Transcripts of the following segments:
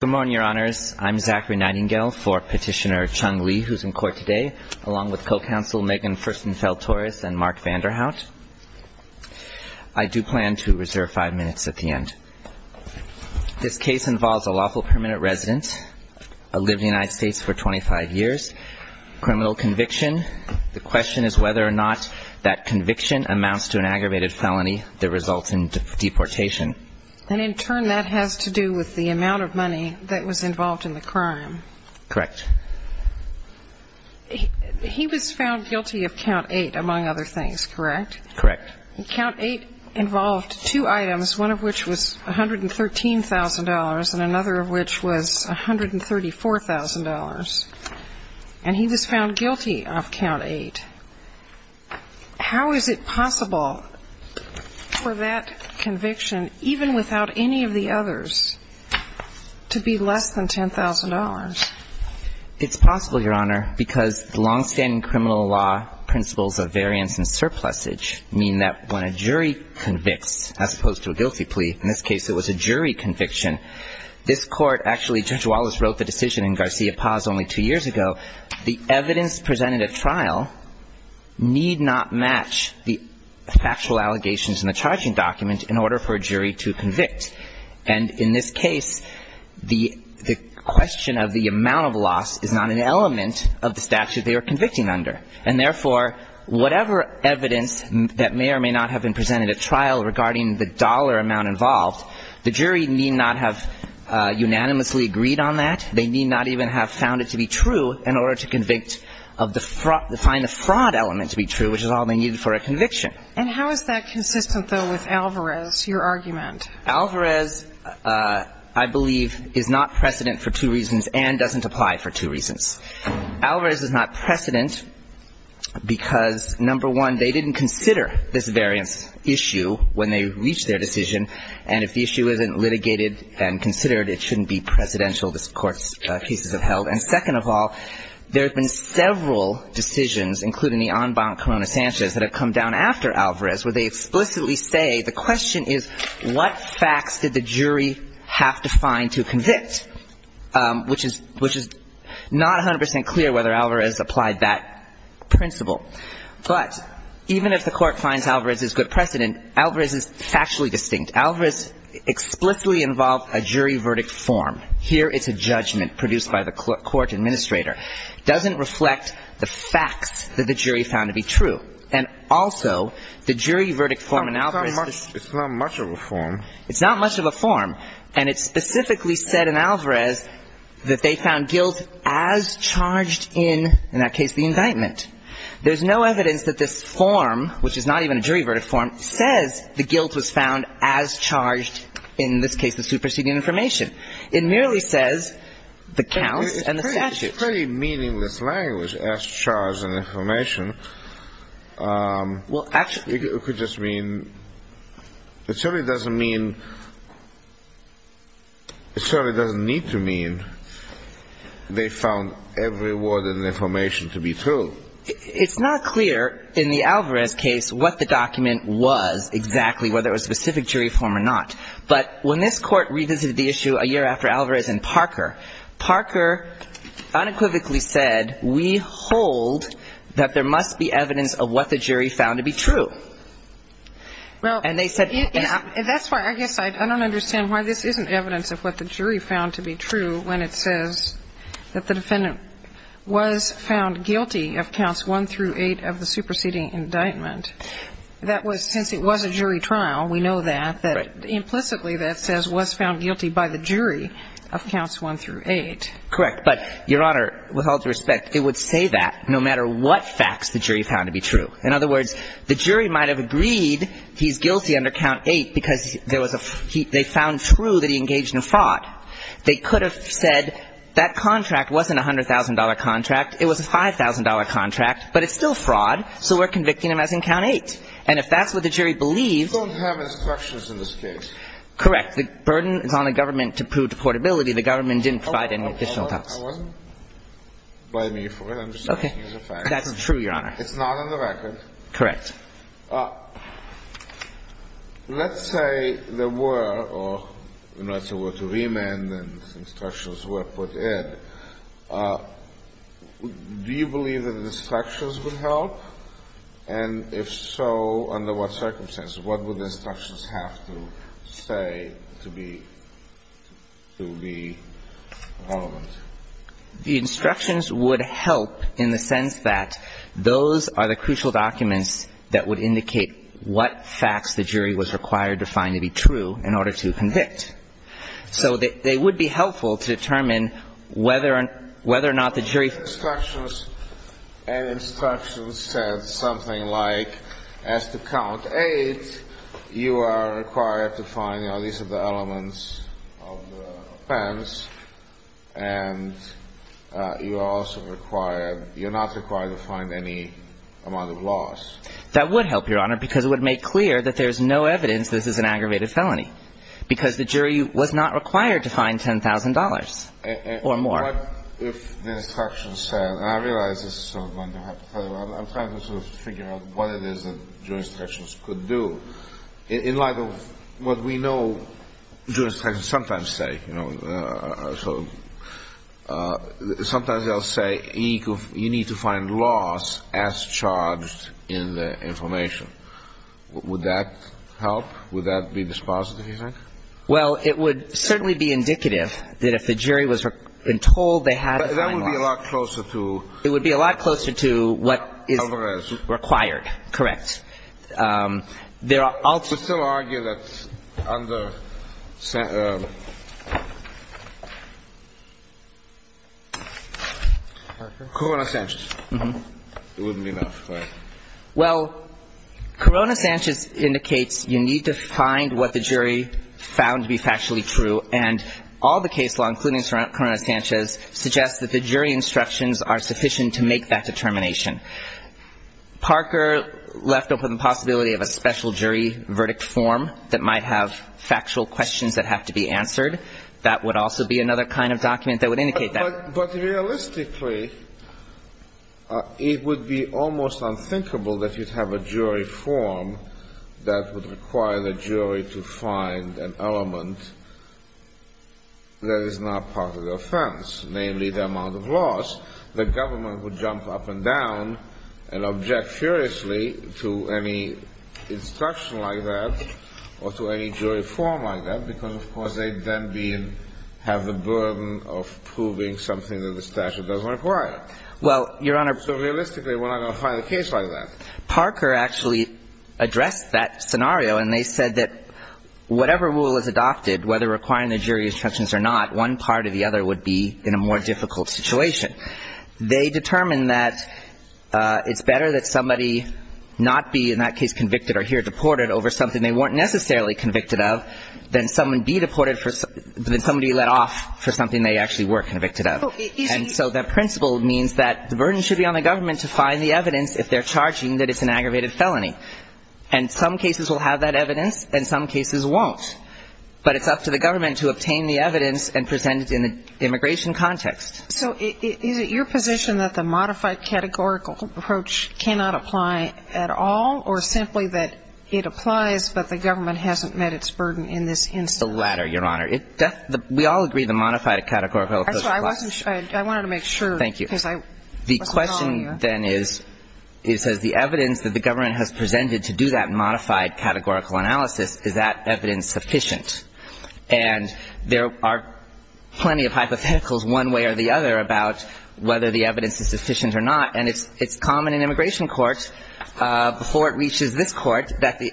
Good morning, Your Honors. I'm Zachary Nightingale for Petitioner Chung Lee, who's in court today, along with co-counsel Megan Furstenfeld-Torres and Mark Vanderhout. I do plan to reserve five minutes at the end. This case involves a lawful permanent resident, lived in the United States for 25 years, criminal conviction. The question is whether or not that conviction amounts to an aggravated felony that results in deportation. And in turn, that has to do with the amount of money that was involved in the crime. Correct. He was found guilty of Count 8, among other things, correct? Correct. Count 8 involved two items, one of which was $113,000 and another of which was $134,000. And he was found guilty of Count 8. How is it possible for that conviction, even without any of the others, to be less than $10,000? It's possible, Your Honor, because the long-standing criminal law principles of variance and surplusage mean that when a jury convicts, as opposed to a guilty plea, in this case it was a jury conviction, this Court actually, Judge Wallace wrote the decision in Garcia-Paz only two years ago, the evidence presented at trial need not match the factual allegations in the charging document in order for a jury to convict. And in this case, the question of the amount of loss is not an element of the statute they are convicting under. And therefore, whatever evidence that may or may not have been presented at trial regarding the dollar amount involved, the jury need not have unanimously agreed on that. They need not even have found it to be true in order to convict of the fraud, find the fraud element to be true, which is all they needed for a conviction. And how is that consistent, though, with Alvarez, your argument? Alvarez, I believe, is not precedent for two reasons and doesn't apply for two reasons. Alvarez is not precedent because, number one, they didn't consider this variance issue when they reached their decision. And if the issue isn't litigated and considered, it shouldn't be presidential, this Court's cases have held. And second of all, there have been several decisions, including the en banc Corona-Sanchez, that have come down after Alvarez where they applied that principle. But even if the Court finds Alvarez is good precedent, Alvarez is factually distinct. Alvarez explicitly involved a jury verdict form. Here it's a judgment produced by the court administrator. It doesn't reflect the facts that the jury found to be true. And also, the jury verdict form in Alvarez is not much of a form. And it specifically said in Alvarez that they found guilt as charged in, in that case, the indictment. There's no evidence that this form, which is not even a jury verdict form, says the guilt was found as charged, in this case, the superseding information. It merely says the counts and the statute. It's a pretty meaningless language, as charged in information. It could just mean, it certainly doesn't mean, it certainly doesn't need to mean they found every word in the information to be true. It's not clear in the Alvarez case what the document was exactly, whether it was a specific jury form or not. But when this Court revisited the issue a year after Alvarez and Parker, Parker unequivocally said, we hold that there must be evidence of what the jury found to be true. And they said. And that's why I guess I don't understand why this isn't evidence of what the jury found to be true when it says that the defendant was found guilty of counts one through eight of the superseding indictment. That was, since it was a jury trial, we know that, that implicitly that says was found guilty by the jury of counts one through eight. Correct. But, Your Honor, with all due respect, it would say that no matter what facts the jury found to be true. In other words, the jury might have agreed he's guilty under count eight because there was a, they found true that he engaged in fraud. They could have said that contract wasn't a $100,000 contract. It was a $5,000 contract. But it's still fraud. So we're convicting him as in count eight. And if that's what the jury believes. We don't have instructions in this case. Correct. The burden is on the government to prove deportability. The government didn't provide any additional doubts. I wasn't by me for it. I'm just making use of facts. Okay. That's true, Your Honor. It's not on the record. Correct. Let's say there were or, you know, it's a word to remand and instructions were put in. Do you believe that the instructions would help? And if so, under what circumstances? What would the instructions have to say to be relevant? The instructions would help in the sense that those are the crucial documents that would indicate what facts the jury was required to find to be true in order to convict. So they would be helpful to determine whether or not the jury. The instructions said something like as to count eight, you are required to find, you know, these are the elements of the offense. And you're also required, you're not required to find any amount of loss. That would help, Your Honor, because it would make clear that there's no evidence this is an aggravated felony. Because the jury was not required to find $10,000 or more. What if the instructions said, and I realize this is sort of going to have to, I'm trying to sort of figure out what it is that jury instructions could do. In light of what we know, jury instructions sometimes say, you know, sort of, sometimes they'll say you need to find loss as charged in the information. Would that help? Would that be dispositive, you think? Well, it would certainly be indicative that if the jury was told they had to find loss. But that would be a lot closer to... It would be a lot closer to what is required. Alvarez. Correct. There are also... You could still argue that under Corona-Sanchez, it wouldn't be enough, right? Well, Corona-Sanchez indicates you need to find what the jury found to be factually true. And all the case law, including Corona-Sanchez, suggests that the jury instructions are sufficient to make that determination. Parker left open the possibility of a special jury verdict form that might have factual questions that have to be answered. That would also be another kind of document that would indicate that. But realistically, it would be almost unthinkable that you'd have a jury form that would require the jury to find an element that is not part of the offense, namely the amount of loss. The government would jump up and down and object furiously to any instruction like that or to any jury form like that because, of course, they then have the burden of proving something that the statute doesn't require. Well, Your Honor. So realistically, we're not going to find a case like that. Parker actually addressed that scenario. And they said that whatever rule is adopted, whether requiring the jury instructions or not, one part or the other would be in a more difficult situation. They determined that it's better that somebody not be in that case convicted or here deported over something they weren't necessarily convicted of than somebody let off for something they actually were convicted of. And so that principle means that the burden should be on the government to find the evidence if they're charging that it's an aggravated felony. And some cases will have that evidence and some cases won't. But it's up to the government to obtain the evidence and present it in the immigration context. So is it your position that the modified categorical approach cannot apply at all, or simply that it applies but the government hasn't met its burden in this instance? The latter, Your Honor. We all agree the modified categorical approach applies. I wanted to make sure. Thank you. Because I wasn't following you. The question then is, it says the evidence that the government has presented to do that modified categorical analysis, is that evidence sufficient? And there are plenty of hypotheticals one way or the other about whether the evidence is sufficient or not. And it's common in immigration courts, before it reaches this court, that the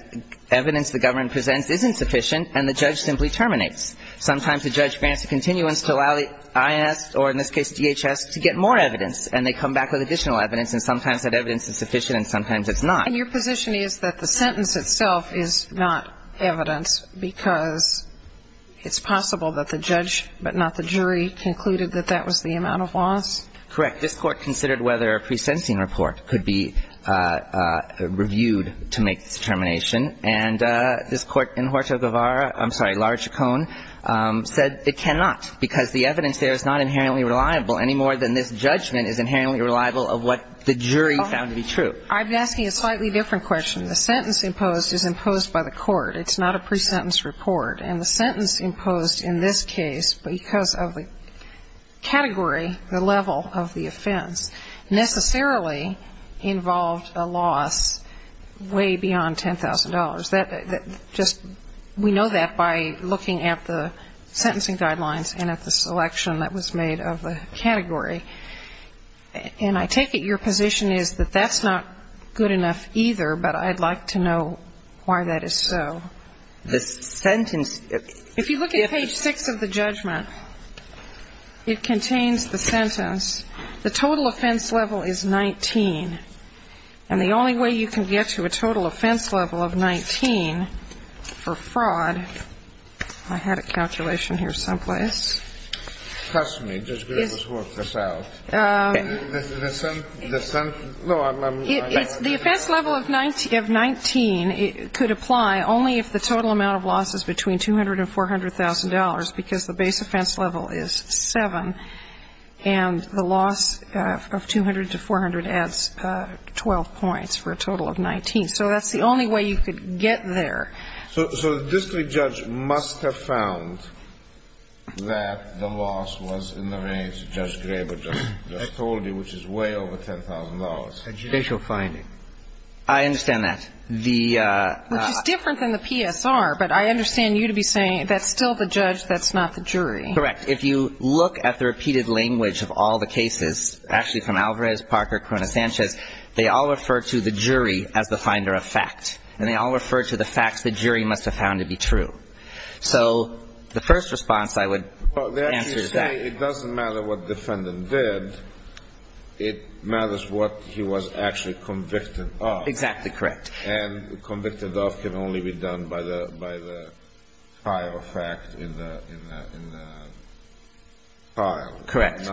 evidence the government presents isn't sufficient and the judge simply terminates. Sometimes the judge grants a continuance to allow the INS, or in this case DHS, to get more evidence. And they come back with additional evidence. And sometimes that evidence is sufficient and sometimes it's not. And your position is that the sentence itself is not evidence because it's possible that the judge, but not the jury, concluded that that was the amount of loss? Correct. This Court considered whether a pre-sentencing report could be reviewed to make this determination. And this Court, in Horta-Guevara, I'm sorry, Larich-Cohen, said it cannot because the evidence there is not inherently reliable any more than this judgment is inherently reliable of what the jury found to be true. I'm asking a slightly different question. The sentence imposed is imposed by the court. It's not a pre-sentence report. And the sentence imposed in this case, because of the category, the level of the offense, necessarily involved a loss way beyond $10,000. That just we know that by looking at the sentencing guidelines and at the selection that was made of the category. And I take it your position is that that's not good enough either, but I'd like to know why that is so. The sentence If you look at page 6 of the judgment, it contains the sentence, the total offense level is 19. And the only way you can get to a total offense level of 19 for fraud, I had a calculation here someplace. Trust me, just be able to work this out. The offense level of 19 could apply only if the total amount of loss is between $200,000 and $400,000, because the base offense level is 7, and the loss of 200 to 400 adds 12 points for a total of 19. So that's the only way you could get there. So the district judge must have found that the loss was in the range of Judge Graber just told you, which is way over $10,000. A judicial finding. I understand that. Which is different than the PSR, but I understand you to be saying that's still the judge, that's not the jury. Correct. If you look at the repeated language of all the cases, actually from Alvarez, Parker, Corona-Sanchez, they all refer to the jury as the finder of fact. And they all refer to the facts the jury must have found to be true. So the first response I would answer to that. It doesn't matter what defendant did. It matters what he was actually convicted of. Exactly correct. And convicted of can only be done by the file of fact in the file. Correct.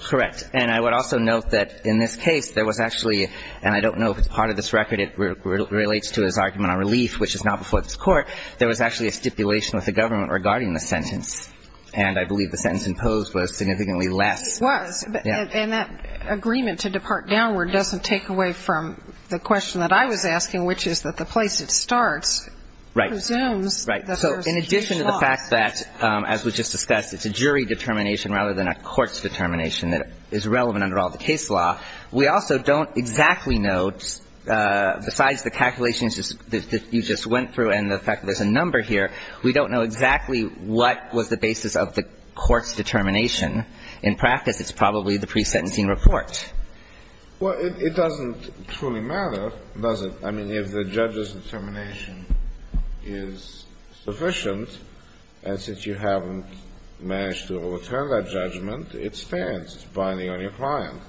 Correct. And I would also note that in this case there was actually, and I don't know if it's part of this record, it relates to his argument on relief, which is not before this Court, there was actually a stipulation with the government regarding the sentence, and I believe the sentence imposed was significantly less. It was. And that agreement to depart downward doesn't take away from the question that I was asking, which is that the place it starts presumes that there's a case law. Right. So in addition to the fact that, as we just discussed, it's a jury determination rather than a court's determination that is relevant under all the case law, we also don't exactly know, besides the calculations that you just went through and the fact that you're here, we don't know exactly what was the basis of the court's determination. In practice, it's probably the pre-sentencing report. Well, it doesn't truly matter, does it? I mean, if the judge's determination is sufficient, and since you haven't managed to overturn that judgment, it stands. It's binding on your client.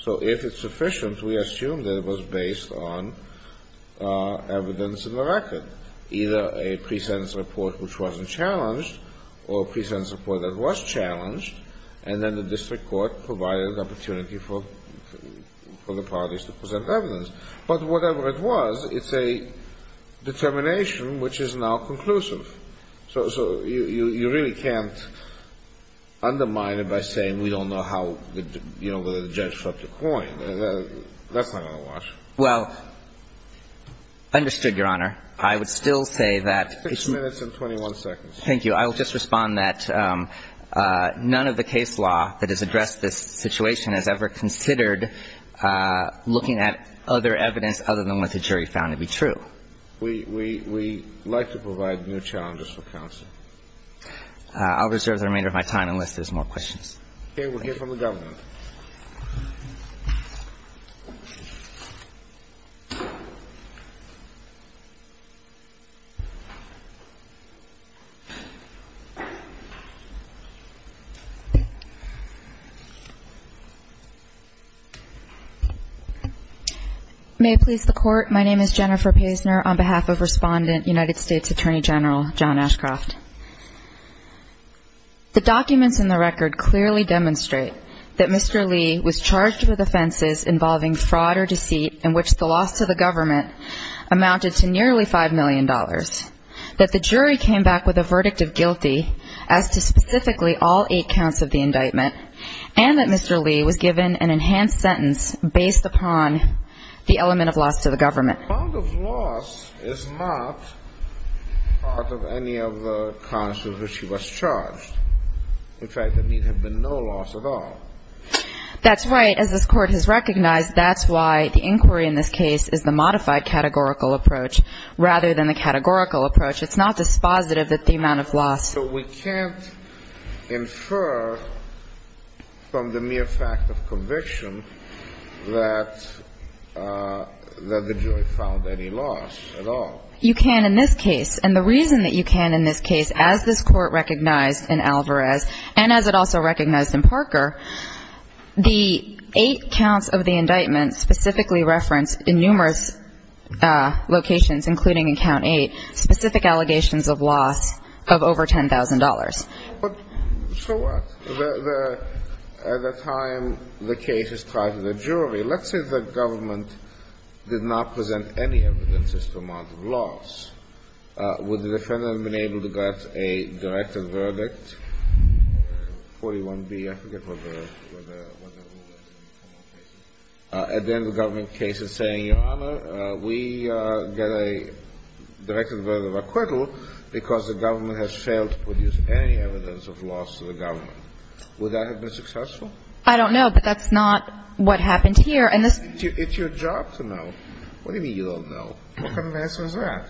So if it's sufficient, we assume that it was based on evidence in the record, that either a pre-sentence report which wasn't challenged or a pre-sentence report that was challenged, and then the district court provided an opportunity for the parties to present evidence. But whatever it was, it's a determination which is now conclusive. So you really can't undermine it by saying we don't know how, you know, whether the judge swept the coin. That's not going to work. Well, understood, Your Honor. I would still say that it's ---- Six minutes and 21 seconds. Thank you. I will just respond that none of the case law that has addressed this situation has ever considered looking at other evidence other than what the jury found to be true. We like to provide new challenges for counsel. I'll reserve the remainder of my time unless there's more questions. Okay. We'll hear from the government. May it please the Court, my name is Jennifer Pazner on behalf of Respondent, United States Attorney General John Ashcroft. The documents in the record clearly demonstrate that Mr. Lee was charged with offenses involving fraud or deceit in which the loss to the government amounted to nearly $5 million, that the jury came back with a verdict of guilty as to specifically all eight counts of the indictment, and that Mr. Lee was given an enhanced sentence based upon the element of loss to the government. The amount of loss is not part of any of the counts of which he was charged. In fact, there need have been no loss at all. That's right. As this Court has recognized, that's why the inquiry in this case is the modified categorical approach rather than the categorical approach. It's not dispositive that the amount of loss ---- So we can't infer from the mere fact of conviction that the jury found to be true. The jury found any loss at all. You can in this case. And the reason that you can in this case, as this Court recognized in Alvarez and as it also recognized in Parker, the eight counts of the indictment specifically referenced in numerous locations, including in count eight, specific allegations of loss of over $10,000. So what? At the time the case is tried in the jury, let's say the government did not present any evidence as to the amount of loss, would the defendant have been able to get a directed verdict, 41B, I forget what the rule was in the criminal cases, and then the government case is saying, Your Honor, we get a directed verdict of acquittal because the government has failed to produce any evidence of loss to the government. Would that have been successful? I don't know, but that's not what happened here. And this ---- It's your job to know. What do you mean you don't know? What kind of answer is that?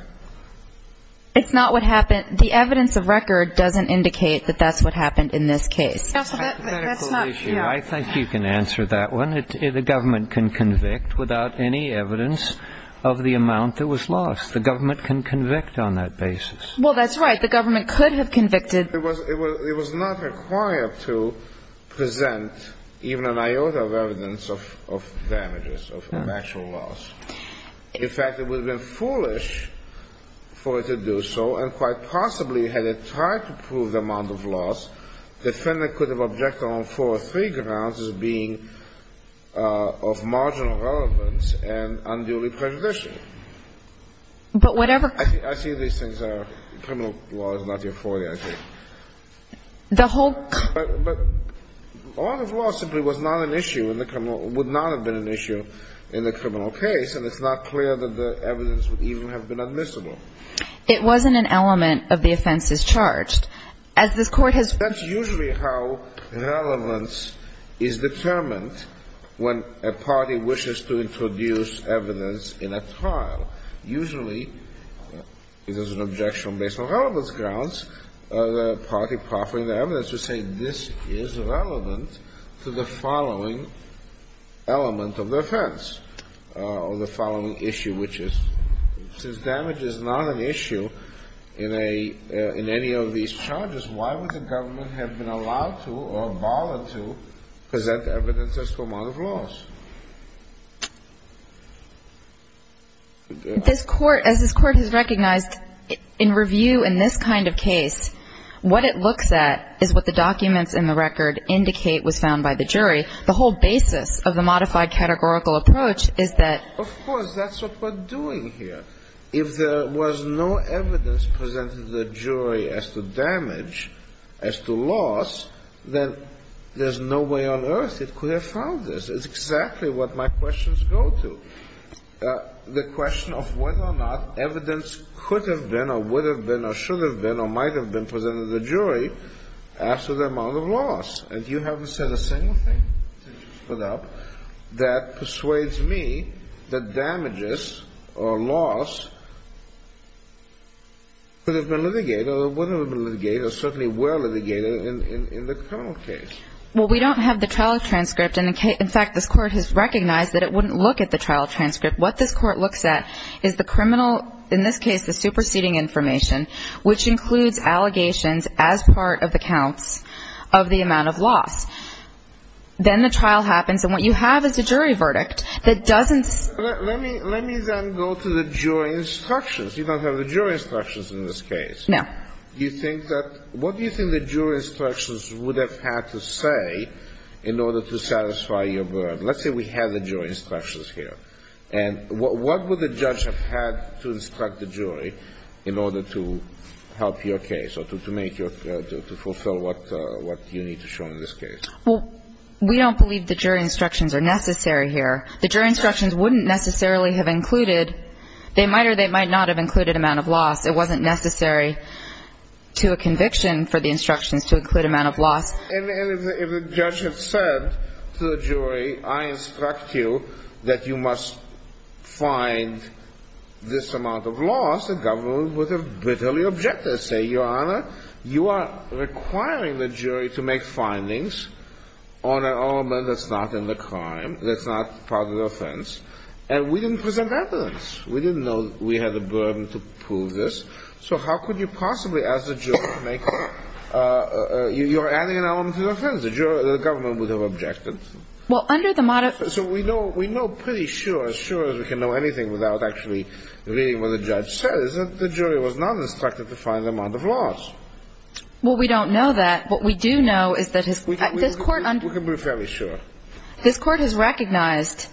It's not what happened. The evidence of record doesn't indicate that that's what happened in this case. Counsel, that's not ---- I think you can answer that one. The government can convict without any evidence of the amount that was lost. The government can convict on that basis. Well, that's right. The government could have convicted. It was not required to present even an iota of evidence of damages, of actual loss. In fact, it would have been foolish for it to do so, and quite possibly had it tried to prove the amount of loss, the defendant could have objected on four or three grounds as being of marginal relevance and unduly prejudicial. But whatever ---- I see these things are ---- criminal law is not the authority, I think. The whole ---- But the amount of loss simply was not an issue in the criminal ---- would not have been an issue in the criminal case, and it's not clear that the evidence would even have been admissible. It wasn't an element of the offenses charged. As this Court has ---- That's usually how relevance is determined when a party wishes to introduce evidence in a trial. Usually, if there's an objection based on relevance grounds, the party proffering the evidence would say this is relevant to the following element of the offense or the following issue, which is since damage is not an issue in a ---- in any of these charges, why would the government have been allowed to or bothered to present evidence as to the amount of loss? This Court ---- as this Court has recognized, in review in this kind of case, what it looks at is what the documents in the record indicate was found by the jury. The whole basis of the modified categorical approach is that ---- Of course, that's what we're doing here. If there was no evidence presented to the jury as to damage, as to loss, then there's no way on earth it could have found this. It's exactly what my questions go to. The question of whether or not evidence could have been or would have been or should have been or might have been presented to the jury as to the amount of loss. And you haven't said a single thing that persuades me that damages or loss could have been litigated or wouldn't have been litigated or certainly were litigated in the criminal case. Well, we don't have the trial transcript. In fact, this Court has recognized that it wouldn't look at the trial transcript. What this Court looks at is the criminal, in this case the superseding information, which includes allegations as part of the counts of the amount of loss. Then the trial happens, and what you have is a jury verdict that doesn't ---- Let me then go to the jury instructions. You don't have the jury instructions in this case. No. Do you think that ---- What do you think the jury instructions would have had to say in order to satisfy your burden? Let's say we have the jury instructions here. And what would the judge have had to instruct the jury in order to help your case or to make your ---- to fulfill what you need to show in this case? Well, we don't believe the jury instructions are necessary here. The jury instructions wouldn't necessarily have included ---- They might or they might not have included amount of loss. It wasn't necessary to a conviction for the instructions to include amount of loss. And if the judge had said to the jury, I instruct you that you must find this amount of loss, the government would have bitterly objected. Say, Your Honor, you are requiring the jury to make findings on an element that's not in the crime, that's not part of the offense. And we didn't present evidence. We didn't know we had the burden to prove this. So how could you possibly ask the jury to make ---- You're adding an element to the offense. The government would have objected. Well, under the ---- So we know pretty sure, as sure as we can know anything without actually reading what the judge says, that the jury was not instructed to find the amount of loss. Well, we don't know that. What we do know is that this Court ---- We can be fairly sure. This Court has recognized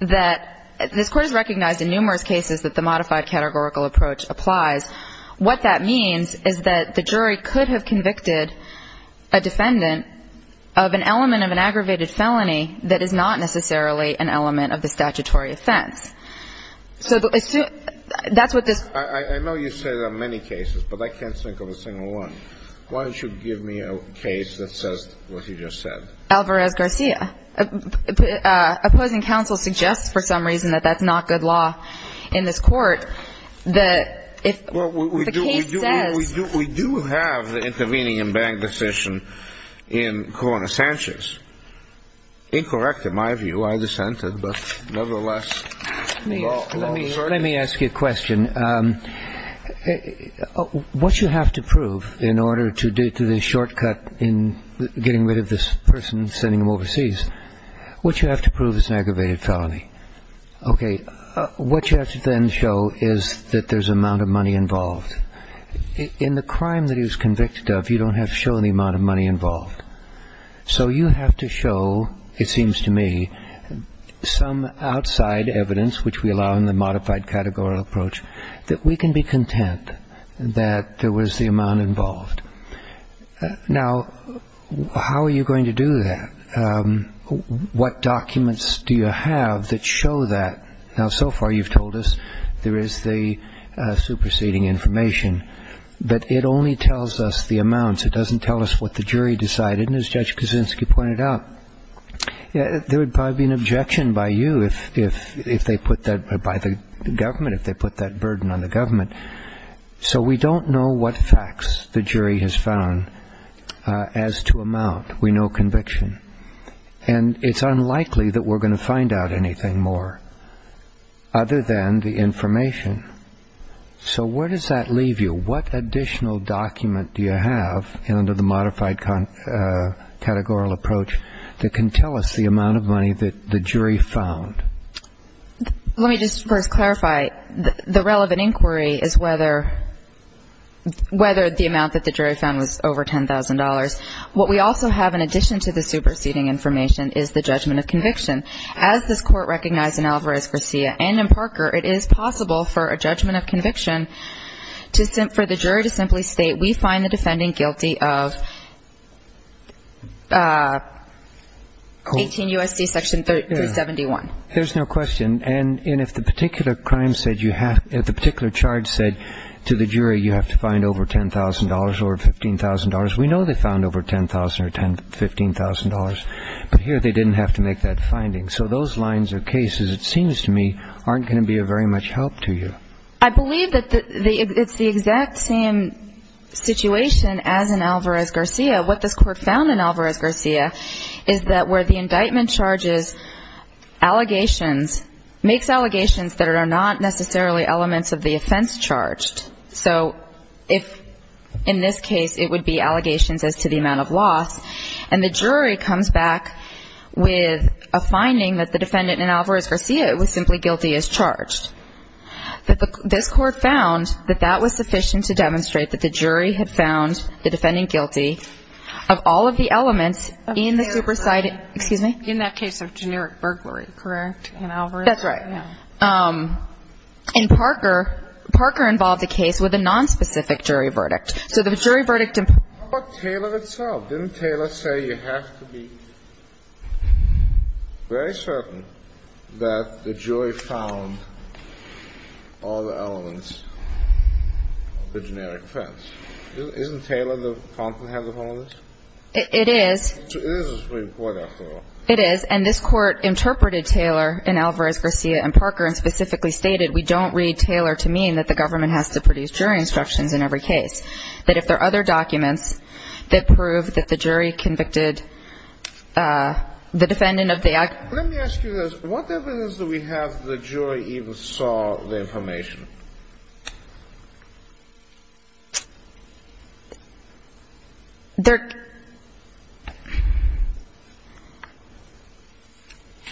that ---- What that means is that the jury could have convicted a defendant of an element of an aggravated felony that is not necessarily an element of the statutory offense. So that's what this ---- I know you say there are many cases, but I can't think of a single one. Why don't you give me a case that says what you just said? Alvarez-Garcia. Opposing counsel suggests for some reason that that's not good law in this Court. The case says ---- We do have the intervening and bang decision in Corona-Sanchez. Incorrect, in my view. I dissented, but nevertheless ---- Let me ask you a question. What you have to prove in order to get to the shortcut in getting rid of this person and sending him overseas, what you have to prove is an aggravated felony. Okay. What you have to then show is that there's amount of money involved. In the crime that he was convicted of, you don't have to show the amount of money involved. So you have to show, it seems to me, some outside evidence, which we allow in the modified categorical approach, that we can be content that there was the amount involved. Now, how are you going to do that? What documents do you have that show that? Now, so far you've told us there is the superseding information. But it only tells us the amounts. It doesn't tell us what the jury decided. And as Judge Kuczynski pointed out, there would probably be an objection by you if they put that, by the government, if they put that burden on the government. So we don't know what facts the jury has found as to amount. We know conviction. And it's unlikely that we're going to find out anything more other than the information. So where does that leave you? What additional document do you have under the modified categorical approach that can tell us the amount of money that the jury found? Let me just first clarify. The relevant inquiry is whether the amount that the jury found was over $10,000. What we also have in addition to the superseding information is the judgment of conviction. As this Court recognized in Alvarez-Garcia and in Parker, it is possible for a judgment of conviction for the jury to simply state, we find the defendant guilty of 18 U.S.C. Section 371. There's no question. And if the particular charge said to the jury you have to find over $10,000 or $15,000, we know they found over $10,000 or $15,000, but here they didn't have to make that finding. So those lines of cases, it seems to me, aren't going to be of very much help to you. I believe that it's the exact same situation as in Alvarez-Garcia. What this Court found in Alvarez-Garcia is that where the indictment charges allegations, makes allegations that are not necessarily elements of the offense charged. So if in this case it would be allegations as to the amount of loss, and the jury comes back with a finding that the defendant in Alvarez-Garcia was simply guilty as charged, this Court found that that was sufficient to demonstrate that the jury had found the defendant guilty of all of the elements in the supersiding. In that case of generic burglary, correct, in Alvarez? That's right. In Parker, Parker involved a case with a nonspecific jury verdict. So the jury verdict... How about Taylor itself? Didn't Taylor say you have to be very certain that the jury found all the elements of the generic offense? Isn't Taylor the comprehensive on this? It is. It is a Supreme Court, after all. It is, and this Court interpreted Taylor in Alvarez-Garcia and Parker and specifically stated we don't read Taylor to mean that the government has to produce jury instructions in every case, that if there are other documents that prove that the jury convicted the defendant of the act... Let me ask you this. What evidence do we have that the jury even saw the information?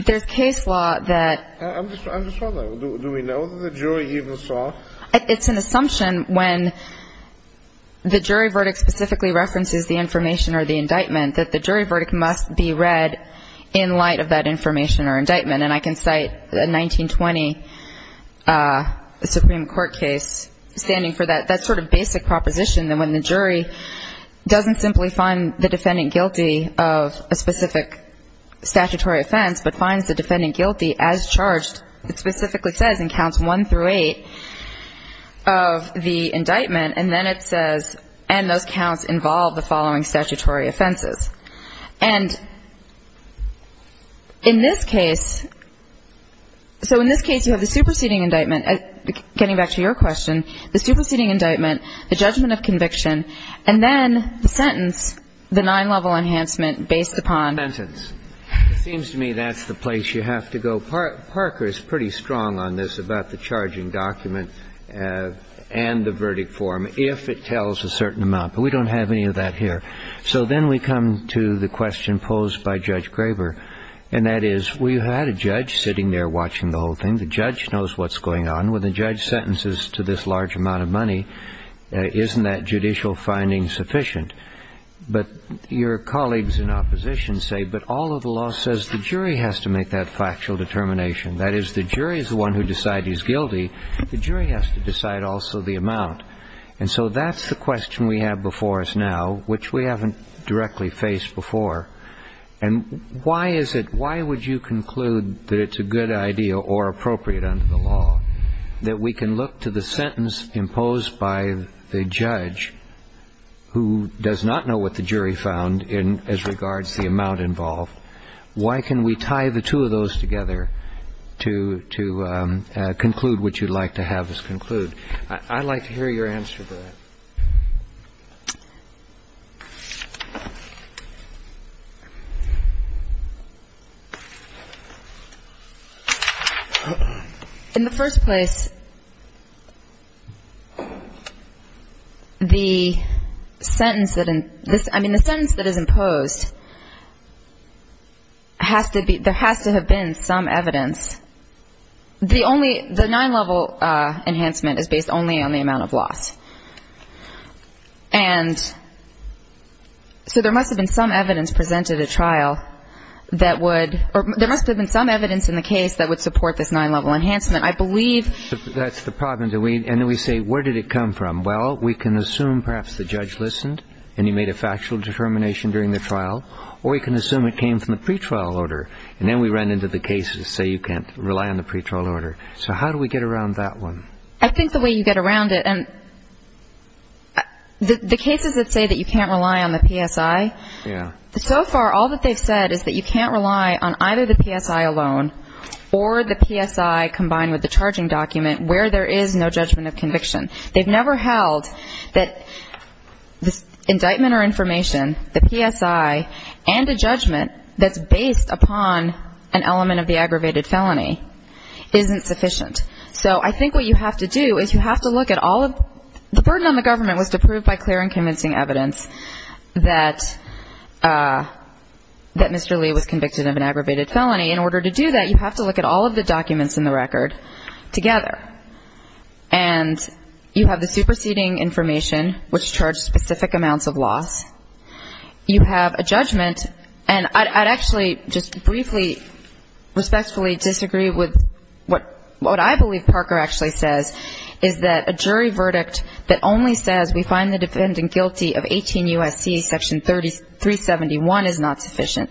There's case law that... I'm just wondering, do we know that the jury even saw? It's an assumption when the jury verdict specifically references the information or the indictment that the jury verdict must be read in light of that information or indictment. And I can cite a 1920 Supreme Court case standing for that sort of basic proposition that when the jury doesn't simply find the defendant guilty of a specific statutory offense but finds the defendant guilty as charged, it specifically says in counts one through eight of the indictment, and then it says, and those counts involve the following statutory offenses. And in this case, so in this case you have the superseding indictment, getting back to your question, the superseding indictment, the judgment of conviction, and then the sentence, the nine-level enhancement based upon... The sentence. It seems to me that's the place you have to go. Well, Parker is pretty strong on this about the charging document and the verdict form, if it tells a certain amount, but we don't have any of that here. So then we come to the question posed by Judge Graber, and that is, we had a judge sitting there watching the whole thing. The judge knows what's going on. When the judge sentences to this large amount of money, isn't that judicial finding sufficient? But your colleagues in opposition say, but all of the law says the jury has to make that factual determination. That is, the jury is the one who decides he's guilty. The jury has to decide also the amount. And so that's the question we have before us now, which we haven't directly faced before. And why is it, why would you conclude that it's a good idea or appropriate under the law, that we can look to the sentence imposed by the judge who does not know what the jury found as regards the amount involved? Why can we tie the two of those together to conclude what you'd like to have us conclude? I'd like to hear your answer to that. Okay. In the first place, the sentence that is imposed has to be, there has to have been some evidence. The nine-level enhancement is based only on the amount of loss. And so there must have been some evidence presented at trial that would, or there must have been some evidence in the case that would support this nine-level enhancement. I believe... That's the problem. And then we say, where did it come from? Well, we can assume perhaps the judge listened and he made a factual determination during the trial, or we can assume it came from the pretrial order. And then we run into the case and say you can't rely on the pretrial order. So how do we get around that one? I think the way you get around it, and the cases that say that you can't rely on the PSI, so far all that they've said is that you can't rely on either the PSI alone or the PSI combined with the charging document where there is no judgment of conviction. They've never held that the indictment or information, the PSI, and a judgment that's based upon an element of the aggravated felony isn't sufficient. So I think what you have to do is you have to look at all of the burden on the government was to prove by clear and convincing evidence that Mr. Lee was convicted of an aggravated felony. In order to do that, you have to look at all of the documents in the record together. And you have the superseding information, which charged specific amounts of loss. You have a judgment. And I'd actually just briefly respectfully disagree with what I believe Parker actually says, is that a jury verdict that only says we find the defendant guilty of 18 U.S.C. Section 371 is not sufficient.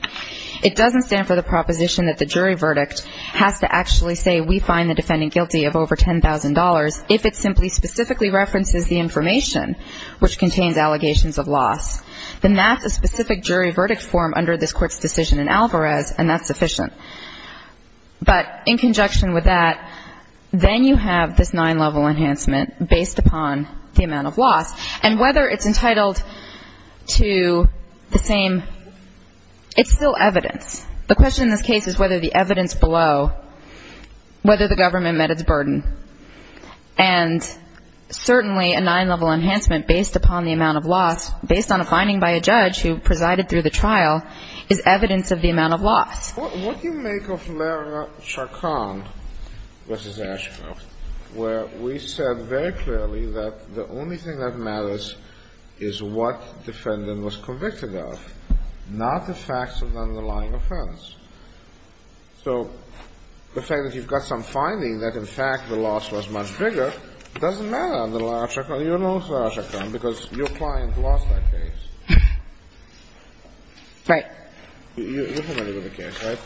It doesn't stand for the proposition that the jury verdict has to actually say we find the defendant guilty of over $10,000 if it simply specifically references the information which contains allegations of loss. Then that's a specific jury verdict form under this Court's decision in Alvarez, and that's sufficient. But in conjunction with that, then you have this nine-level enhancement based upon the amount of loss. And whether it's entitled to the same, it's still evidence. The question in this case is whether the evidence below, whether the government met its burden. And certainly a nine-level enhancement based upon the amount of loss, based on a finding by a judge who presided through the trial, is evidence of the amount of loss. What do you make of Lerner-Chacon v. Ashcroft, where we said very clearly that the only thing that matters is what defendant was convicted of, not the facts of the underlying offense? So the fact that you've got some finding that, in fact, the loss was much bigger doesn't matter under Lerner-Chacon. You don't know Lerner-Chacon because your client lost that case. Right. You're familiar with the case, right?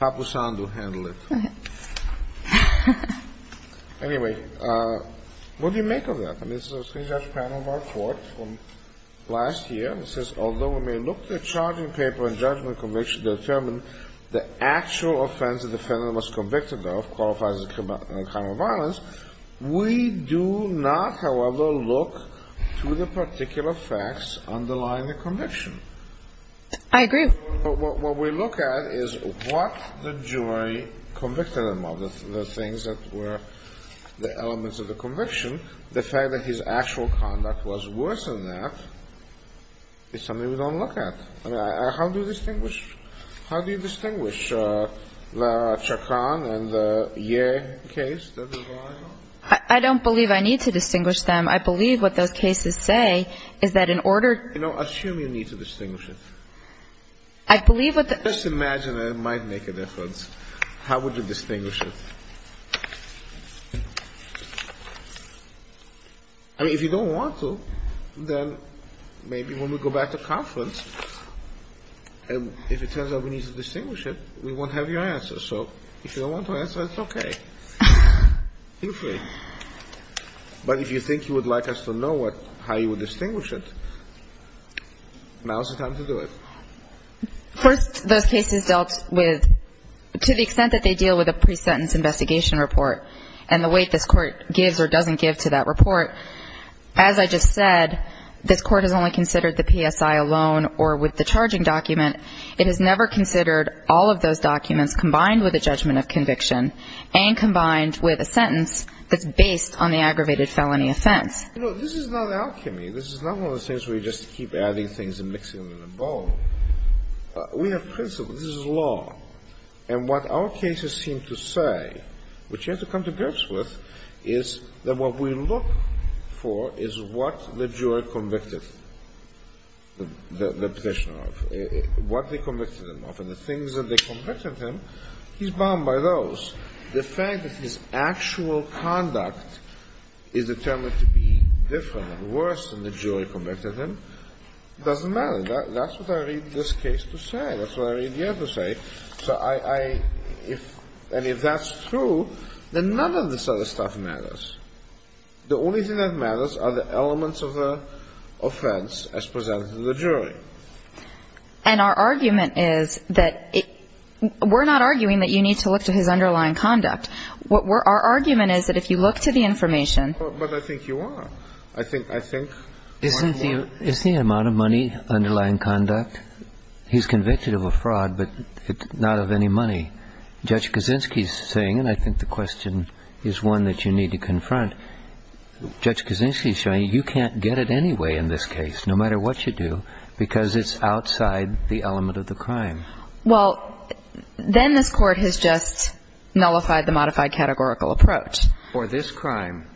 Papusandu handled it. Anyway, what do you make of that? I mean, this is a three-judge panel of our court from last year. It says, although we may look at the charging paper and judgment conviction to determine the actual offense the defendant was convicted of qualifies as a crime of violence, we do not, however, look to the particular facts underlying the conviction. I agree. What we look at is what the jury convicted him of, the things that were the elements of the conviction, the fact that his actual conduct was worse than that is something we don't look at. How do you distinguish? How do you distinguish Lerner-Chacon and the Yeh case? I don't believe I need to distinguish them. I believe what those cases say is that in order to assume you need to distinguish it. I believe what the Just imagine that it might make a difference. How would you distinguish it? I mean, if you don't want to, then maybe when we go back to conference and if it turns out we need to distinguish it, we won't have your answer. So if you don't want to answer, it's okay. Feel free. But if you think you would like us to know how you would distinguish it, now is the time to do it. First, those cases dealt with, to the extent that they deal with a pre-sentence investigation report and the weight this court gives or doesn't give to that report, as I just said, this court has only considered the PSI alone or with the charging document. It has never considered all of those documents combined with a judgment of conviction and combined with a sentence that's based on the aggravated felony offense. You know, this is not alchemy. This is not one of those things where you just keep adding things and mixing them in a bowl. We have principles. This is law. And what our cases seem to say, which you have to come to grips with, is that what we look for is what the jury convicted the petitioner of, what they convicted him of, and the things that they convicted him, he's bound by those. The fact that his actual conduct is determined to be different and worse than the jury convicted him doesn't matter. That's what I read this case to say. That's what I read the other case to say. And if that's true, then none of this other stuff matters. The only thing that matters are the elements of the offense as presented to the jury. And our argument is that we're not arguing that you need to look to his underlying conduct. Our argument is that if you look to the information But I think you are. I think Isn't the amount of money underlying conduct? He's convicted of a fraud, but not of any money. Judge Kaczynski's saying, and I think the question is one that you need to confront, Judge Kaczynski's saying you can't get it anyway in this case, no matter what you do, because it's outside the element of the crime. Well, then this Court has just nullified the modified categorical approach. For this crime.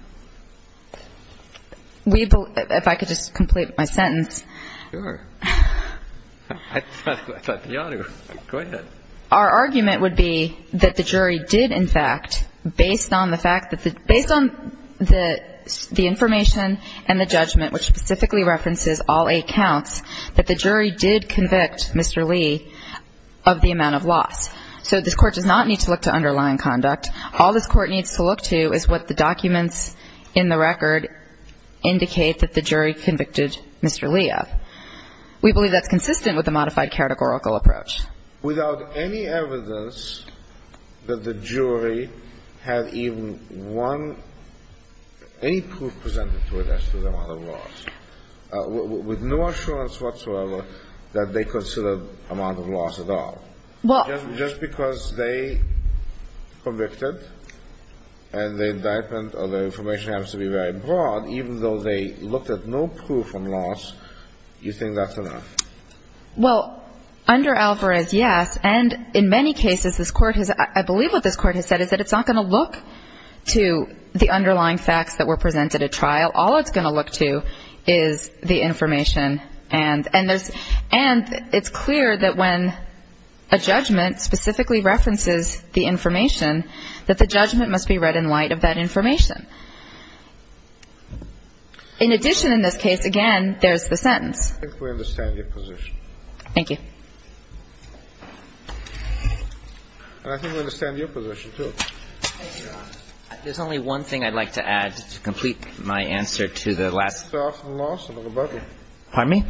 If I could just complete my sentence. Sure. I thought you ought to. Go ahead. Our argument would be that the jury did, in fact, based on the fact that the based on the information and the judgment, which specifically references all eight counts, that the jury did convict Mr. Lee of the amount of loss. So this Court does not need to look to underlying conduct. All this Court needs to look to is what the documents in the record indicate that the jury convicted Mr. Lee of. We believe that's consistent with the modified categorical approach. Without any evidence that the jury had even one, any proof presented to it as to the amount of loss. With no assurance whatsoever that they considered amount of loss at all. Well. Just because they convicted and the indictment or the information happens to be very broad, even though they looked at no proof of loss, you think that's enough? Well, under Alvarez, yes. And in many cases, this Court has, I believe what this Court has said is that it's not going to look to the underlying facts that were presented at trial. All it's going to look to is the information. And it's clear that when a judgment specifically references the information, that the judgment must be read in light of that information. In addition in this case, again, there's the sentence. I think we understand your position. Thank you. And I think we understand your position, too. There's only one thing I'd like to add to complete my answer to the last. Cases are often lost in rebuttal. Pardon me?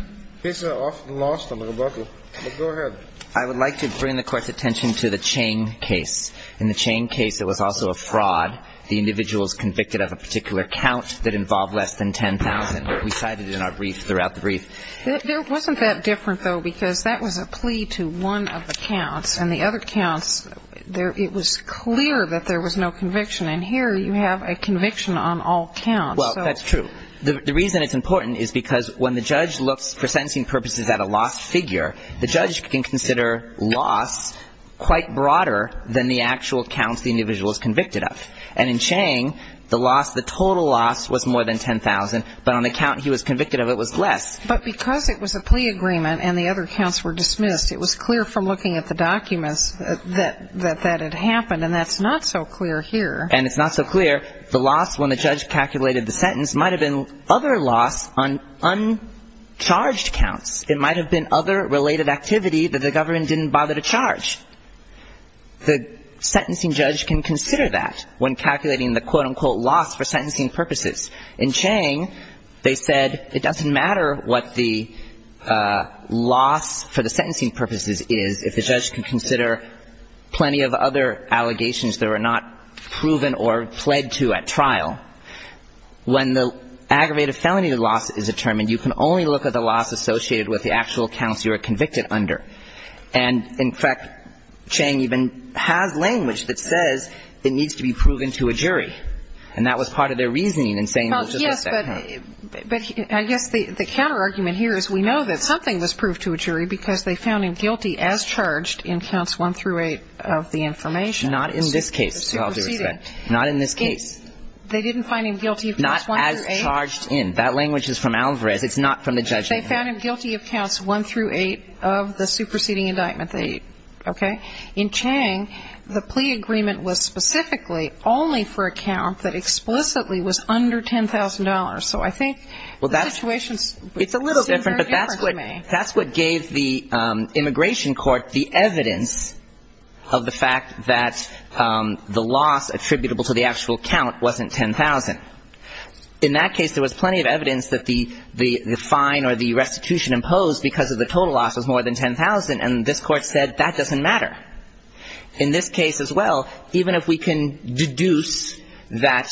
Cases are often lost in rebuttal. But go ahead. I would like to bring the Court's attention to the Chang case. In the Chang case, it was also a fraud. The individual is convicted of a particular count that involved less than 10,000. We cited it in our brief, throughout the brief. There wasn't that different, though, because that was a plea to one of the counts. And the other counts, it was clear that there was no conviction. And here you have a conviction on all counts. Well, that's true. The reason it's important is because when the judge looks for sentencing purposes at a lost figure, the judge can consider loss quite broader than the actual counts the individual is convicted of. And in Chang, the loss, the total loss was more than 10,000. But on the count he was convicted of, it was less. But because it was a plea agreement and the other counts were dismissed, it was clear from looking at the documents that that had happened. And that's not so clear here. And it's not so clear. The loss when the judge calculated the sentence might have been other loss on uncharged counts. It might have been other related activity that the government didn't bother to charge. The sentencing judge can consider that when calculating the, quote, unquote, loss for sentencing purposes. In Chang, they said it doesn't matter what the loss for the sentencing purposes is if the judge can consider plenty of other allegations that were not proven or pled to at trial. When the aggravated felony loss is determined, you can only look at the loss associated with the actual counts you are convicted under. And, in fact, Chang even has language that says it needs to be proven to a jury. And that was part of their reasoning in saying it was just at trial. But I guess the counterargument here is we know that something was proved to a jury because they found him guilty as charged in counts one through eight of the information. Not in this case, I'll do it again. Not in this case. They didn't find him guilty of counts one through eight. Not as charged in. That language is from Alvarez. It's not from the judge. They found him guilty of counts one through eight of the superseding indictment. Okay. In Chang, the plea agreement was specifically only for a count that explicitly was under $10,000. So I think the situation seems very different to me. It's a little different, but that's what gave the immigration court the evidence of the fact that the loss attributable to the actual count wasn't $10,000. In that case, there was plenty of evidence that the fine or the restitution imposed because of the total loss was more than $10,000, and this Court said that doesn't matter. In this case as well, even if we can deduce that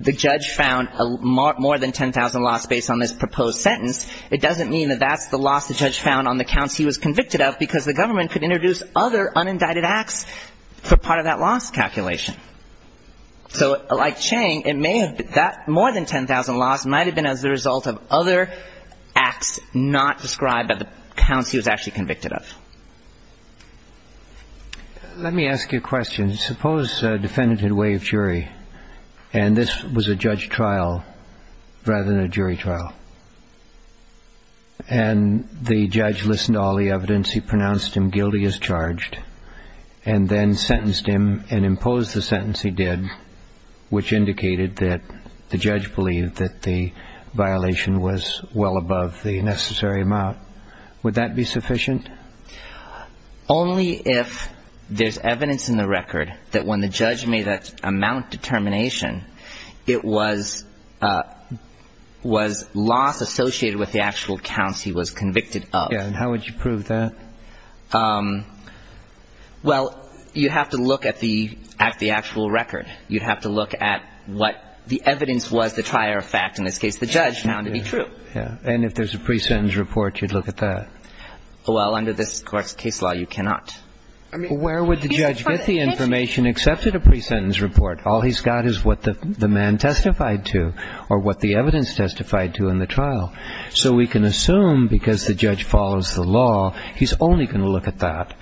the judge found more than $10,000 loss based on this proposed sentence, it doesn't mean that that's the loss the judge found on the counts he was convicted of because the government could introduce other unindicted acts for part of that loss calculation. So like Chang, it may have been that more than $10,000 loss might have been as a result of other acts not described by the counts he was actually convicted of. Let me ask you a question. Suppose a defendant had waived jury, and this was a judge trial rather than a jury trial, and the judge listened to all the evidence, he pronounced him guilty as charged, and then sentenced him and imposed the sentence he did, which indicated that the judge believed that the violation was well above the necessary amount. Would that be sufficient? Only if there's evidence in the record that when the judge made that amount determination, it was loss associated with the actual counts he was convicted of. Yeah. And how would you prove that? Well, you'd have to look at the actual record. You'd have to look at what the evidence was, the prior fact. In this case, the judge found it to be true. Yeah. And if there's a pre-sentence report, you'd look at that. Well, under this court's case law, you cannot. Where would the judge get the information except at a pre-sentence report? All he's got is what the man testified to or what the evidence testified to in the trial. So we can assume because the judge follows the law, he's only going to look at that,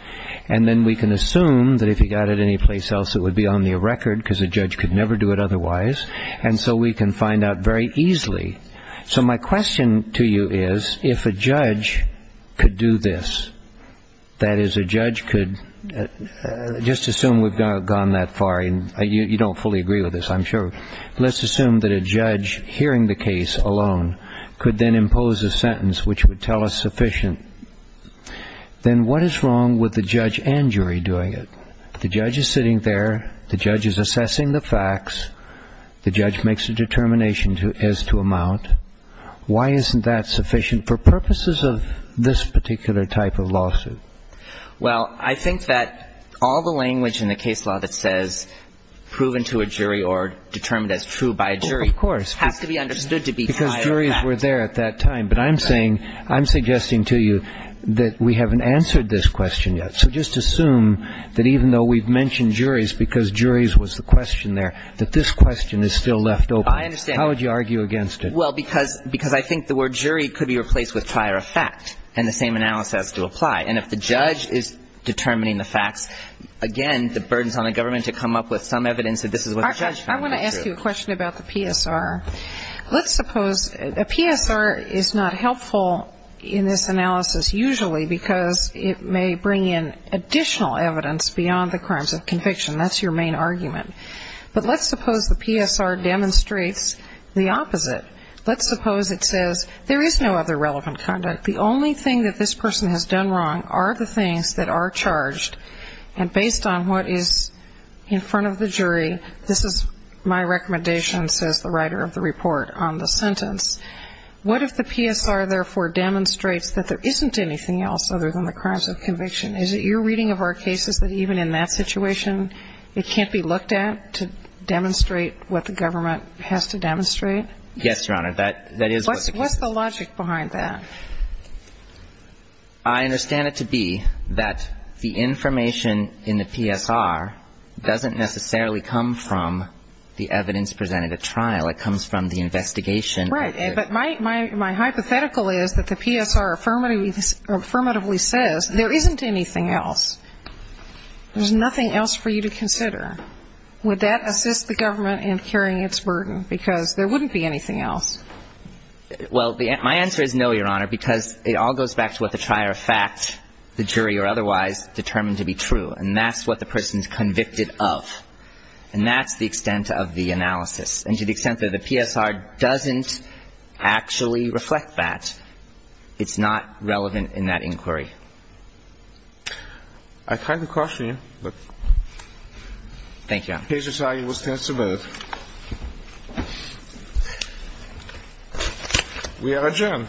and then we can assume that if he got it anyplace else, it would be on the record because a judge could never do it otherwise, and so we can find out very easily. So my question to you is if a judge could do this, that is, a judge could just assume we've gone that far and you don't fully agree with this, I'm sure. Let's assume that a judge hearing the case alone could then impose a sentence which would tell us sufficient. Then what is wrong with the judge and jury doing it? The judge is sitting there. The judge is assessing the facts. The judge makes a determination as to amount. Well, I think that all the language in the case law that says proven to a jury or determined as true by a jury has to be understood to be prior of fact. Because juries were there at that time. But I'm saying, I'm suggesting to you that we haven't answered this question yet. So just assume that even though we've mentioned juries because juries was the question there, that this question is still left open. I understand. How would you argue against it? Well, because I think the word jury could be replaced with prior of fact, and the same analysis has to apply. And if the judge is determining the facts, again, the burden is on the government to come up with some evidence that this is what the judge found to be true. I want to ask you a question about the PSR. Let's suppose a PSR is not helpful in this analysis usually because it may bring in additional evidence beyond the crimes of conviction. That's your main argument. But let's suppose the PSR demonstrates the opposite. Let's suppose it says there is no other relevant conduct. The only thing that this person has done wrong are the things that are charged. And based on what is in front of the jury, this is my recommendation, says the writer of the report on the sentence. What if the PSR, therefore, demonstrates that there isn't anything else other than the crimes of conviction? Is it your reading of our cases that even in that situation, it can't be looked at to demonstrate what the government has to demonstrate? Yes, Your Honor. That is what the case is. I understand it to be that the information in the PSR doesn't necessarily come from the evidence presented at trial. It comes from the investigation. Right. But my hypothetical is that the PSR affirmatively says there isn't anything else. There's nothing else for you to consider. Would that assist the government in carrying its burden? Because there wouldn't be anything else. Well, my answer is no, Your Honor, because it all goes back to what the trier of fact, the jury or otherwise, determined to be true. And that's what the person is convicted of. And that's the extent of the analysis. And to the extent that the PSR doesn't actually reflect that, it's not relevant in that inquiry. I kind of question you. Thank you, Your Honor. The case is signed. We'll stand to vote. We are adjourned. Thank you, Your Honor. Thank you. Thank you.